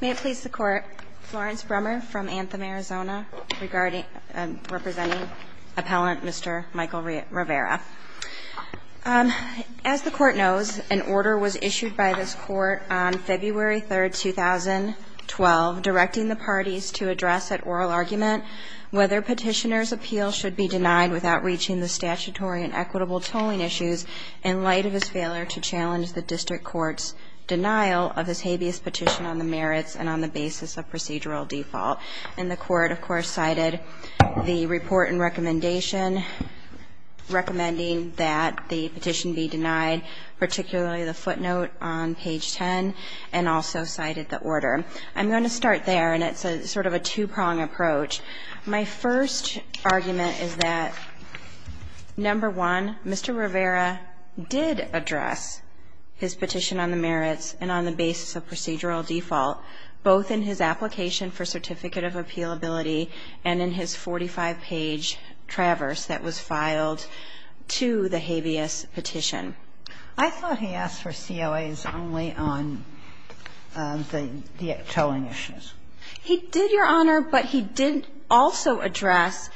May it please the Court, Florence Brummer from Anthem, Arizona, representing Appellant Mr. Michael Rivera. As the Court knows, an order was issued by this Court on February 3, 2012, directing the parties to address at oral argument whether petitioner's appeal should be denied without reaching the statutory and equitable tolling issues in light of his failure to challenge the District Court's denial of his habeas petition on the merits and on the basis of procedural default. And the Court, of course, cited the report and recommendation recommending that the petition be denied, particularly the footnote on page 10, and also cited the order. I'm going to start there, and it's sort of a two-prong approach. My first argument is that, number one, Mr. Rivera did address his petition on the merits and on the basis of procedural default, both in his application for certificate of appealability and in his 45-page traverse that was filed to the habeas petition. I thought he asked for COAs only on the tolling issues. He did, Your Honor, but he did also address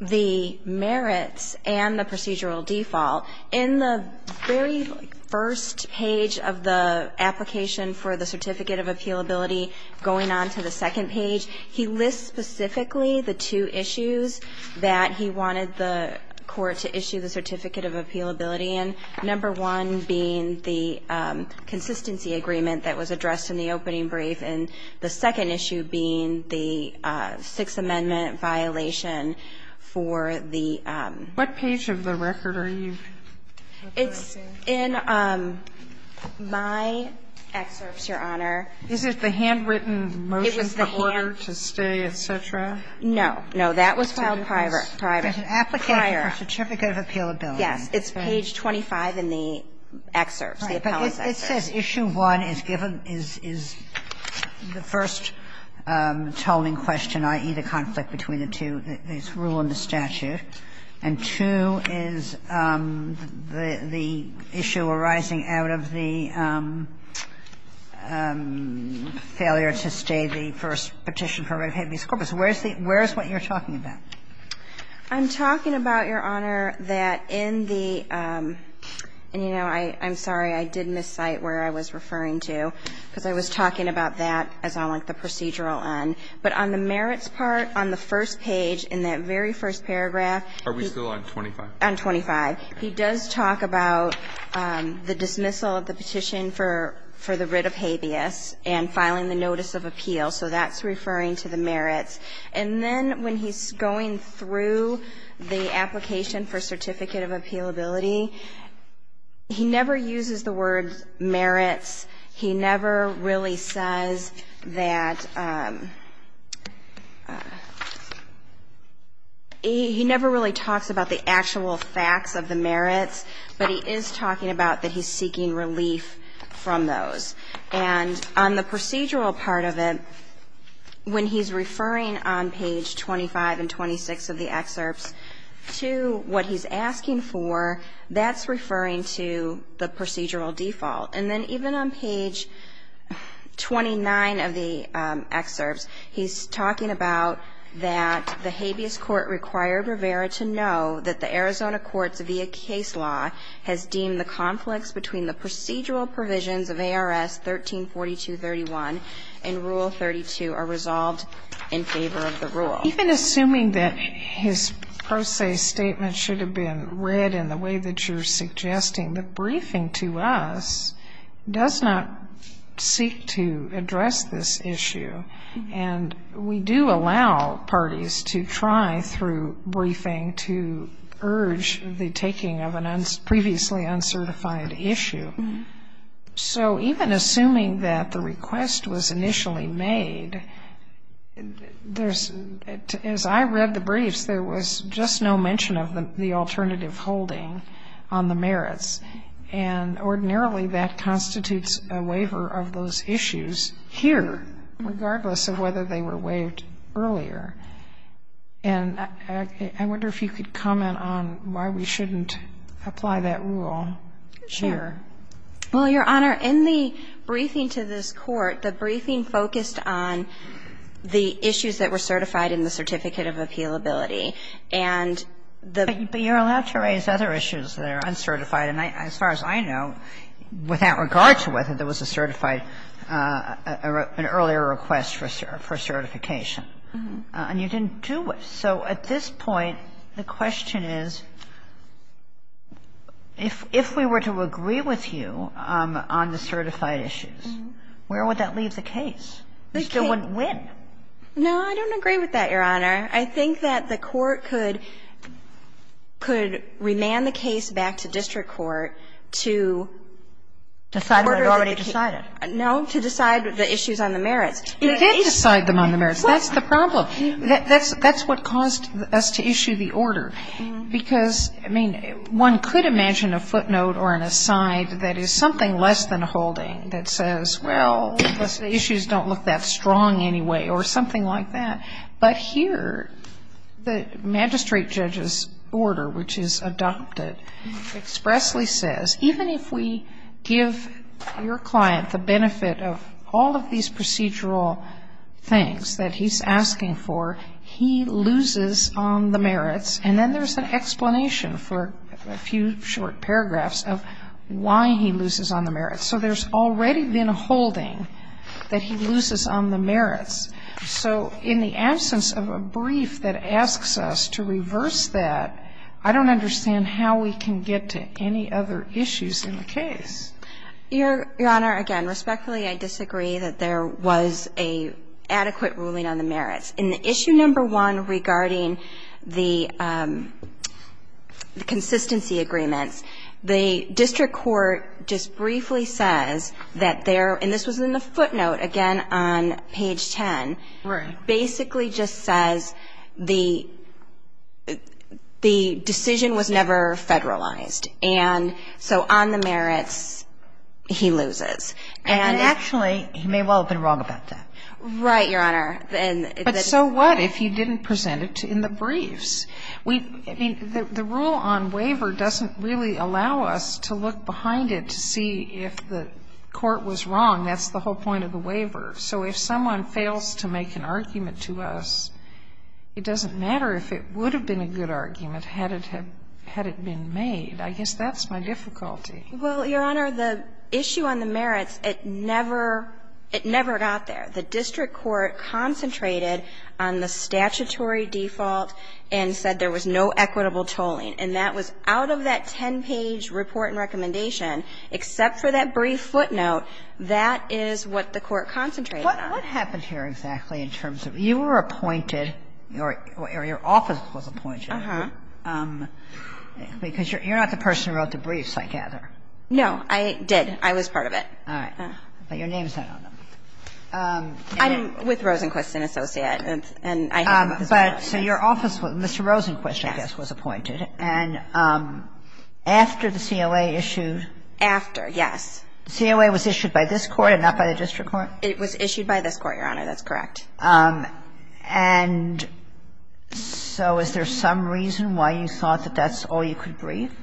the merits and the procedural default. In the very first page of the application for the certificate of appealability, going on to the second page, he lists specifically the two issues that he wanted the Court to issue the certificate of appealability in, number one being the consistency agreement that was addressed in the opening brief, and the second issue being the Sixth Amendment violation for the --- Sotomayor, what page of the record are you referring to? It's in my excerpts, Your Honor. Is it the handwritten motion to order to stay, et cetera? No. No, that was filed prior. Prior. Prior. It's an application for certificate of appealability. Yes. It's page 25 in the excerpts, the appellate excerpts. It says issue one is given as the first tolling question, i.e., the conflict between the two. It's rule in the statute. And two is the issue arising out of the failure to stay, the first petition for review of habeas corpus. Where is the – where is what you're talking about? I'm talking about, Your Honor, that in the – and, you know, I'm sorry. I did miscite where I was referring to because I was talking about that as on, like, the procedural end. But on the merits part, on the first page, in that very first paragraph – Are we still on 25? On 25. He does talk about the dismissal of the petition for the writ of habeas and filing the notice of appeal. So that's referring to the merits. And then when he's going through the application for certificate of appealability, he never uses the word merits. He never really says that – he never really talks about the actual facts of the merits. But he is talking about that he's seeking relief from those. And on the procedural part of it, when he's referring on page 25 and 26 of the excerpts to what he's asking for, that's referring to the procedural default. And then even on page 29 of the excerpts, he's talking about that the habeas court required Rivera to know that the Arizona courts via case law has deemed the conflicts between the procedural provisions of ARS 1342.31 and Rule 32 are resolved in favor of the rule. Even assuming that his pro se statement should have been read in the way that you're suggesting, the briefing to us does not seek to address this issue. And we do allow parties to try through briefing to urge the taking of a previously uncertified issue. So even assuming that the request was initially made, there's – as I read the briefs, there was just no mention of the alternative holding on the merits. And ordinarily that constitutes a waiver of those issues here, regardless of whether they were waived earlier. And I wonder if you could comment on why we shouldn't apply that rule here. Well, Your Honor, in the briefing to this Court, the briefing focused on the issues that were certified in the Certificate of Appealability. And the – But you're allowed to raise other issues that are uncertified. And as far as I know, without regard to whether there was a certified, an earlier request for certification. And you didn't do it. So at this point, the question is, if we were to agree with you on the certified issues, where would that leave the case? You still wouldn't win. No, I don't agree with that, Your Honor. I think that the Court could remand the case back to district court to order the case. Decide what it already decided. No, to decide the issues on the merits. You did decide them on the merits. That's the problem. That's what caused us to issue the order. Because, I mean, one could imagine a footnote or an aside that is something less than a holding that says, well, the issues don't look that strong anyway, or something like that. But here, the magistrate judge's order, which is adopted, expressly says, even if we give your client the benefit of all of these procedural things that he's asking for, he loses on the merits. And then there's an explanation for a few short paragraphs of why he loses on the merits. So there's already been a holding that he loses on the merits. So in the absence of a brief that asks us to reverse that, I don't understand how we can get to any other issues in the case. Your Honor, again, respectfully, I disagree that there was an adequate ruling on the merits. In the issue number one regarding the consistency agreements, the district court just briefly says that there, and this was in the footnote, again, on page 10. Right. Basically just says the decision was never federalized. And so on the merits, he loses. And actually, he may well have been wrong about that. Right, Your Honor. But so what if he didn't present it in the briefs? I mean, the rule on waiver doesn't really allow us to look behind it to see if the court was wrong. That's the whole point of the waiver. So if someone fails to make an argument to us, it doesn't matter if it would have been a good argument had it been made. I guess that's my difficulty. Well, Your Honor, the issue on the merits, it never got there. The district court concentrated on the statutory default and said there was no equitable tolling. And that was out of that 10-page report and recommendation, except for that brief footnote. That is what the court concentrated on. What happened here exactly in terms of you were appointed or your office was appointed? Uh-huh. Because you're not the person who wrote the briefs, I gather. No. I did. I was part of it. All right. But your name's not on them. I'm with Rosenquist & Associates. And I have an office. But so your office, Mr. Rosenquist, I guess, was appointed. Yes. And after the COA issued? After, yes. The COA was issued by this Court and not by the district court? It was issued by this Court, Your Honor. That's correct. And so is there some reason why you thought that that's all you could brief?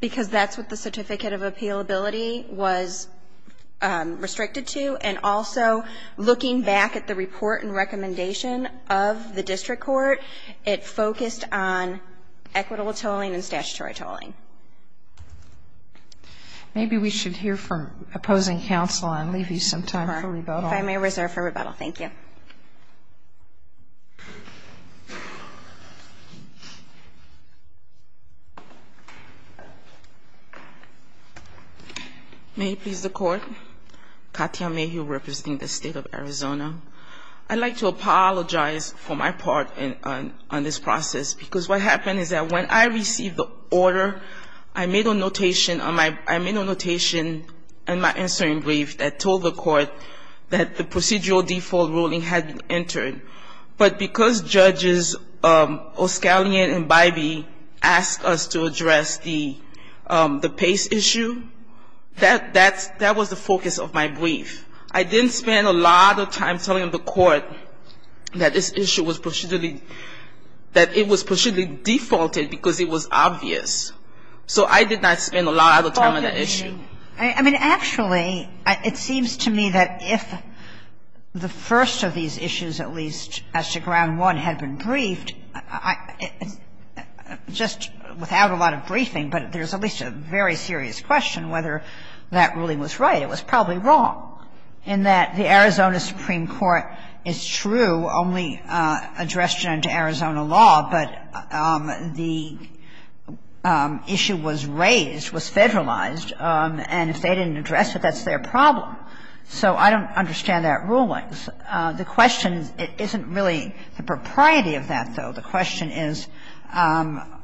Because that's what the certificate of appealability was restricted to. And also, looking back at the report and recommendation of the district court, it focused on equitable tolling and statutory tolling. Maybe we should hear from opposing counsel and leave you some time for rebuttal. If I may reserve for rebuttal. Thank you. May it please the Court, Katya Mayhew, representing the State of Arizona. I'd like to apologize for my part on this process, because what happened is that when I received the order, I made a notation in my answering brief that told the Court that the procedural default ruling had entered. But because Judges Oscalian and Bybee asked us to address the PACE issue, that was the focus of my brief. I didn't spend a lot of time telling the Court that this issue was procedurally that it was procedurally defaulted because it was obvious. So I did not spend a lot of time on that issue. I mean, actually, it seems to me that if the first of these issues, at least as to ground one, had been briefed, just without a lot of briefing, but there's at least a very serious question whether that ruling was right. It was probably wrong, in that the Arizona Supreme Court is true, only addressed it under Arizona law, but the issue was raised, was federalized. And if they didn't address it, that's their problem. So I don't understand that ruling. The question isn't really the propriety of that, though. The question is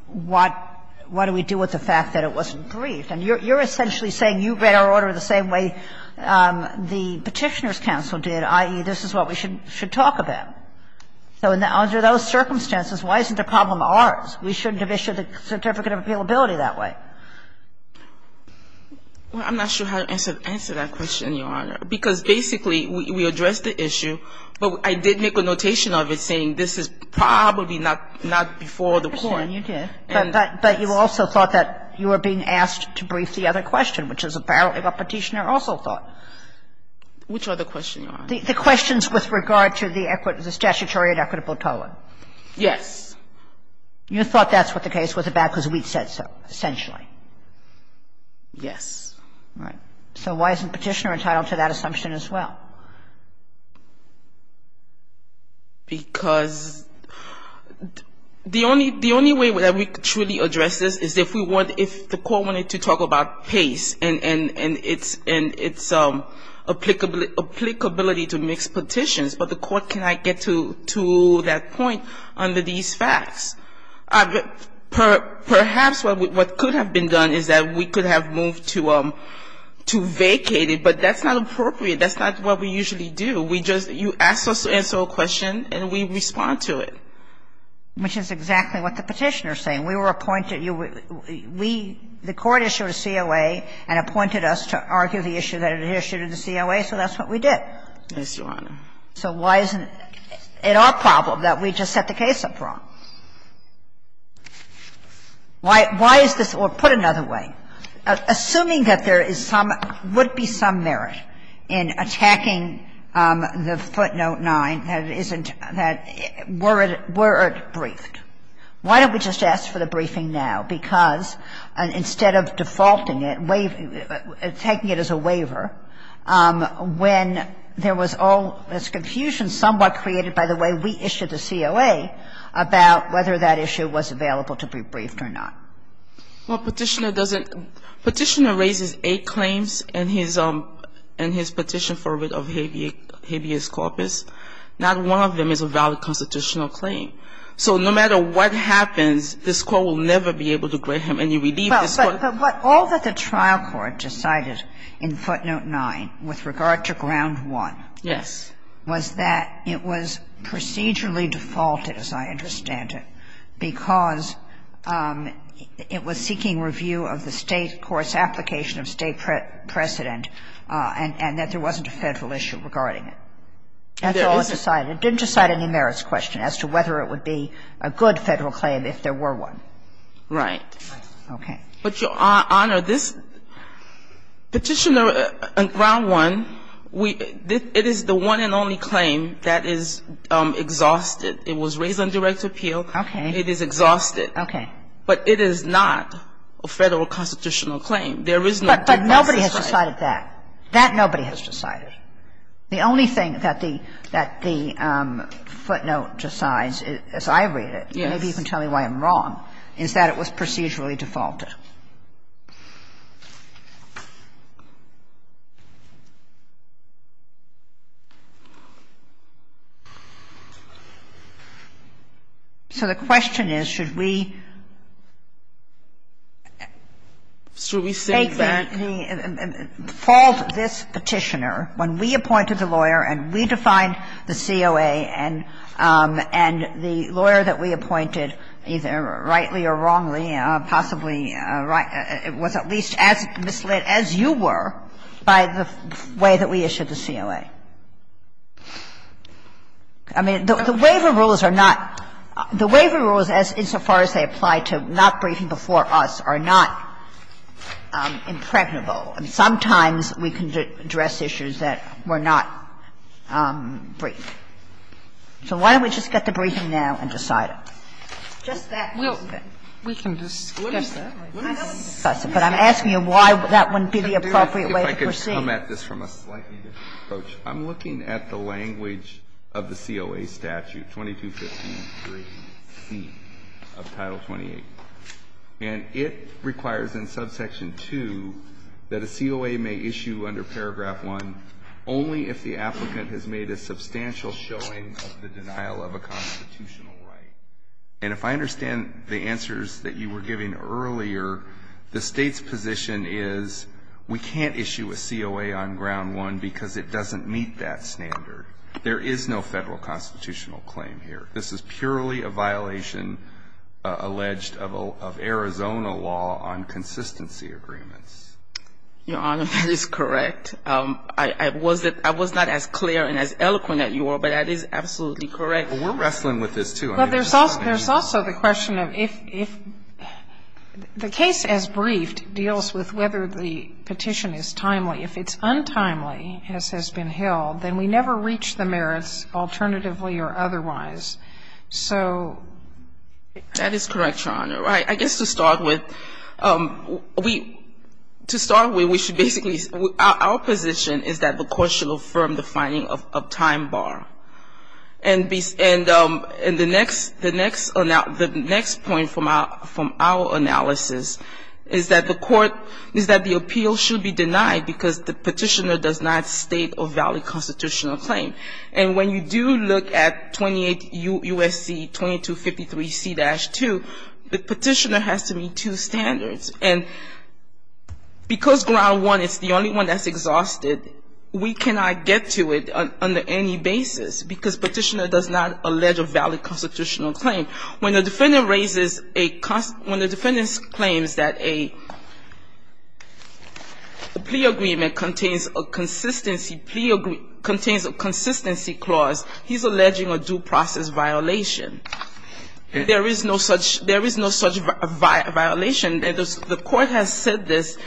what do we do with the fact that it wasn't briefed. Kagan, you're essentially saying you read our order the same way the Petitioner's counsel did, i.e., this is what we should talk about. So under those circumstances, why isn't the problem ours? We shouldn't have issued the Certificate of Appealability that way. Well, I'm not sure how to answer that question, Your Honor, because basically we addressed the issue, but I did make a notation of it saying this is probably not before the Court. Well, then you did. But you also thought that you were being asked to brief the other question, which is apparently what Petitioner also thought. Which other question, Your Honor? The questions with regard to the statutory and equitable toa. Yes. You thought that's what the case was about because we said so, essentially. Yes. Right. So why isn't Petitioner entitled to that assumption as well? Because the only way that we could truly address this is if we want, if the Court wanted to talk about pace and its applicability to mixed petitions, but the Court cannot get to that point under these facts. Perhaps what could have been done is that we could have moved to vacate it, but that's not appropriate. That's not what we usually do. We just, you ask us to answer a question and we respond to it. Which is exactly what the Petitioner is saying. We were appointed, we, the Court issued a COA and appointed us to argue the issue that it issued in the COA, so that's what we did. Yes, Your Honor. So why isn't it our problem that we just set the case up wrong? Why is this, or put another way, assuming that there is some, would be some merit in attacking the footnote 9, that it isn't, that, were it, were it briefed? Why don't we just ask for the briefing now? Because instead of defaulting it, taking it as a waiver, when there was all this confusion somewhat created by the way we issued the COA about whether that issue was available to be briefed or not. Well, Petitioner doesn't, Petitioner raises eight claims in his, in his petition for a writ of habeas corpus. Not one of them is a valid constitutional claim. So no matter what happens, this Court will never be able to grant him any relief. But all that the trial court decided in footnote 9 with regard to ground 1. Yes. Was that it was procedurally defaulted, as I understand it. Because it was seeking review of the State court's application of State precedent and that there wasn't a Federal issue regarding it. That's all it decided. It didn't decide any merits question as to whether it would be a good Federal claim if there were one. Right. Okay. But, Your Honor, this Petitioner on ground 1, it is the one and only claim that is exhausted. It was raised on direct appeal. Okay. It is exhausted. Okay. But it is not a Federal constitutional claim. There is no due process right. But nobody has decided that. That nobody has decided. The only thing that the, that the footnote decides, as I read it, maybe you can tell me why I'm wrong, is that it was procedurally defaulted. So the question is, should we say that the default of this Petitioner, when we appointed the lawyer and we defined the COA and, and the lawyer that we appointed, either rightly or wrongly, possibly rightly or wrongly, should we say that the Petitioner was at least as misled as you were by the way that we issued the COA? I mean, the waiver rules are not, the waiver rules, insofar as they apply to not briefing before us, are not impregnable. I mean, sometimes we can address issues that were not briefed. So why don't we just get to briefing now and decide it? Just that one thing. Sotomayor, if I could come at this from a slightly different approach. I'm looking at the language of the COA statute, 2215.3c of Title 28, and it requires in subsection 2 that a COA may issue under paragraph 1 only if the applicant has made a substantial showing of the denial of a constitutional right. And if I understand the answers that you were giving earlier, the State's position is we can't issue a COA on ground one because it doesn't meet that standard. There is no Federal constitutional claim here. This is purely a violation alleged of Arizona law on consistency agreements. Your Honor, that is correct. I was not as clear and as eloquent as you are, but that is absolutely correct. We're wrestling with this, too. Well, there's also the question of if the case as briefed deals with whether the petition is timely. If it's untimely, as has been held, then we never reach the merits alternatively or otherwise. So that is correct, Your Honor. I guess to start with, to start with, we should basically, our position is that the court should affirm the finding of time bar. And the next point from our analysis is that the court, is that the appeal should be denied because the petitioner does not state a valid constitutional claim. And when you do look at 28 U.S.C. 2253C-2, the petitioner has to meet two standards. And because ground one is the only one that's exhausted, we cannot get to it under any basis. Because petitioner does not allege a valid constitutional claim. When the defendant raises a, when the defendant claims that a plea agreement contains a consistency clause, he's alleging a due process violation. There is no such, there is no such violation. And the court has said this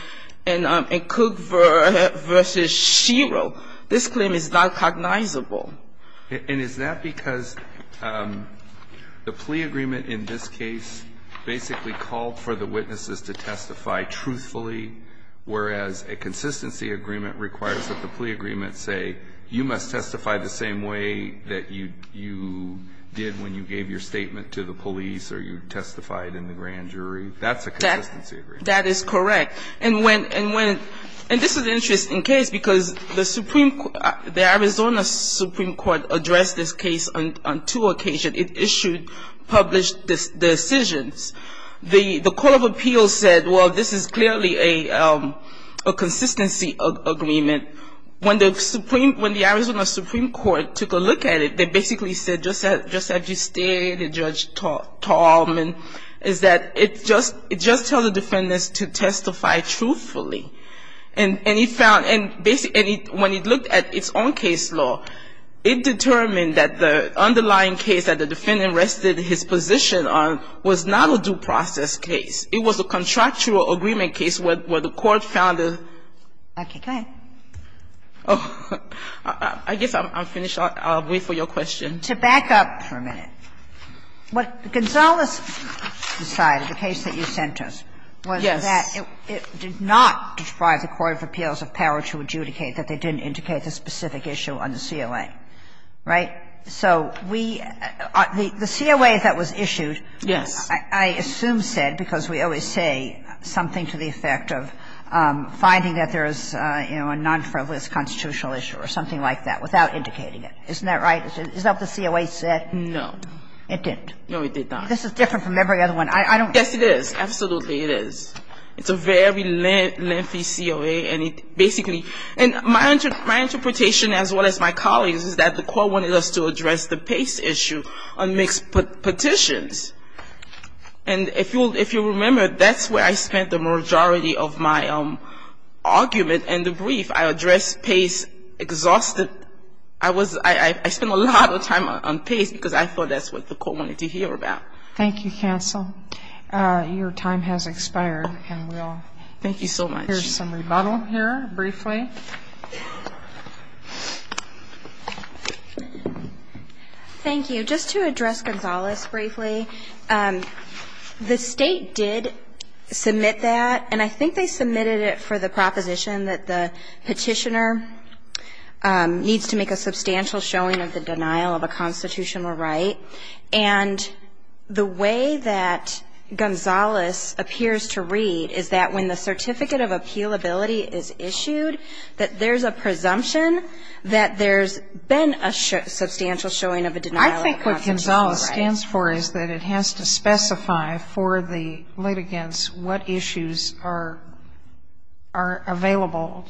in Cook v. Shiro, this claim is not cognizable. And is that because the plea agreement in this case basically called for the witnesses to testify truthfully, whereas a consistency agreement requires that the plea agreement say you must testify the same way that you did when you gave your statement to the police or you testified in the grand jury? That's a consistency agreement. That is correct. And when, and when, and this is an interesting case because the Supreme, the Arizona Supreme Court addressed this case on two occasions. It issued published decisions. The call of appeals said, well, this is clearly a consistency agreement. When the Arizona Supreme Court took a look at it, they basically said just as you stated, Judge Tallman, is that it just, it just tells the defendants to testify truthfully. And it found, and basically when it looked at its own case law, it determined that the underlying case that the defendant rested his position on was not a due process case. It was a contractual agreement case where the court found a. Okay. Go ahead. I guess I'm finished. I'll wait for your question. To back up for a minute. What Gonzales decided, the case that you sent us, was that it did not deprive the court of appeals of power to adjudicate that they didn't indicate the specific issue on the COA, right? So we, the COA that was issued, I assume said, because we always say something to the effect of finding that there is, you know, a non-frivolous constitutional issue or something like that without indicating it. Isn't that right? Is that what the COA said? No. It didn't? No, it did not. This is different from every other one. Yes, it is. Absolutely, it is. It's a very lengthy COA, and it basically, and my interpretation as well as my colleagues is that the court wanted us to address the Pace issue on mixed petitions. And if you'll remember, that's where I spent the majority of my argument and the brief. I addressed Pace exhausted. I spent a lot of time on Pace because I thought that's what the court wanted to hear about. Thank you, Counsel. Your time has expired, and we'll hear some rebuttal here briefly. Thank you. Just to address Gonzales briefly, the State did submit that, and I think they submitted it for the showing of the denial of a constitutional right, and the way that Gonzales appears to read is that when the certificate of appealability is issued, that there's a presumption that there's been a substantial showing of a denial of a constitutional right. I think what Gonzales stands for is that it has to specify for the litigants what issues are available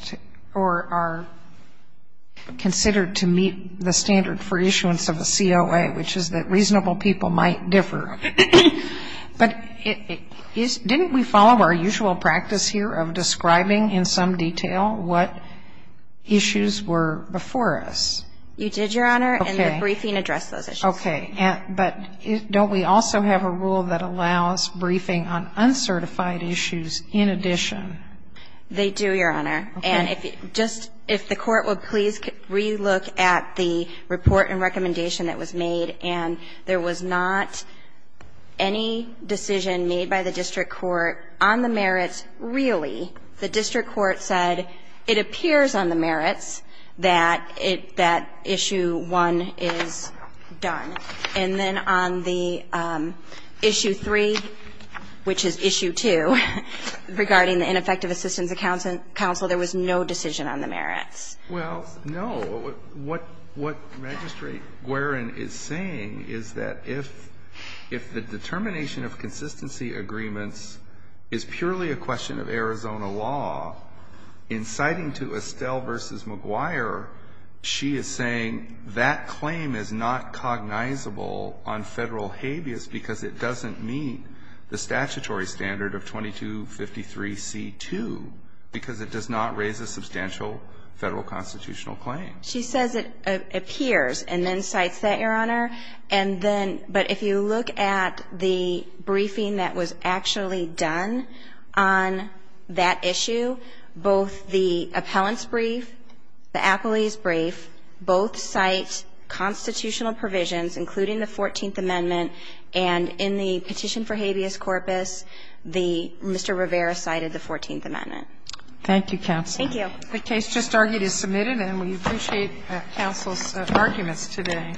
or are considered to meet the standard for issuance of a COA, which is that reasonable people might differ. But didn't we follow our usual practice here of describing in some detail what issues were before us? You did, Your Honor, and the briefing addressed those issues. Okay. But don't we also have a rule that allows briefing on uncertified issues in addition? They do, Your Honor. Okay. And if the Court will please relook at the report and recommendation that was made, and there was not any decision made by the district court on the merits really. The district court said it appears on the merits that issue one is done. And then on the issue three, which is issue two, regarding the ineffective assistance of counsel, there was no decision on the merits. Well, no. What Registrar Guerin is saying is that if the determination of consistency agreements is purely a question of Arizona law, inciting to Estelle v. McGuire, she is saying that claim is not cognizable on Federal habeas because it doesn't meet the statutory standard of 2253c2 because it does not raise a substantial Federal constitutional claim. She says it appears and then cites that, Your Honor. And then but if you look at the briefing that was actually done on that issue, both the appellant's brief, the appellee's brief, both cite constitutional provisions, including the 14th Amendment, and in the petition for habeas corpus, Mr. Rivera cited the 14th Amendment. Thank you, counsel. Thank you. The case just argued is submitted, and we appreciate counsel's arguments today.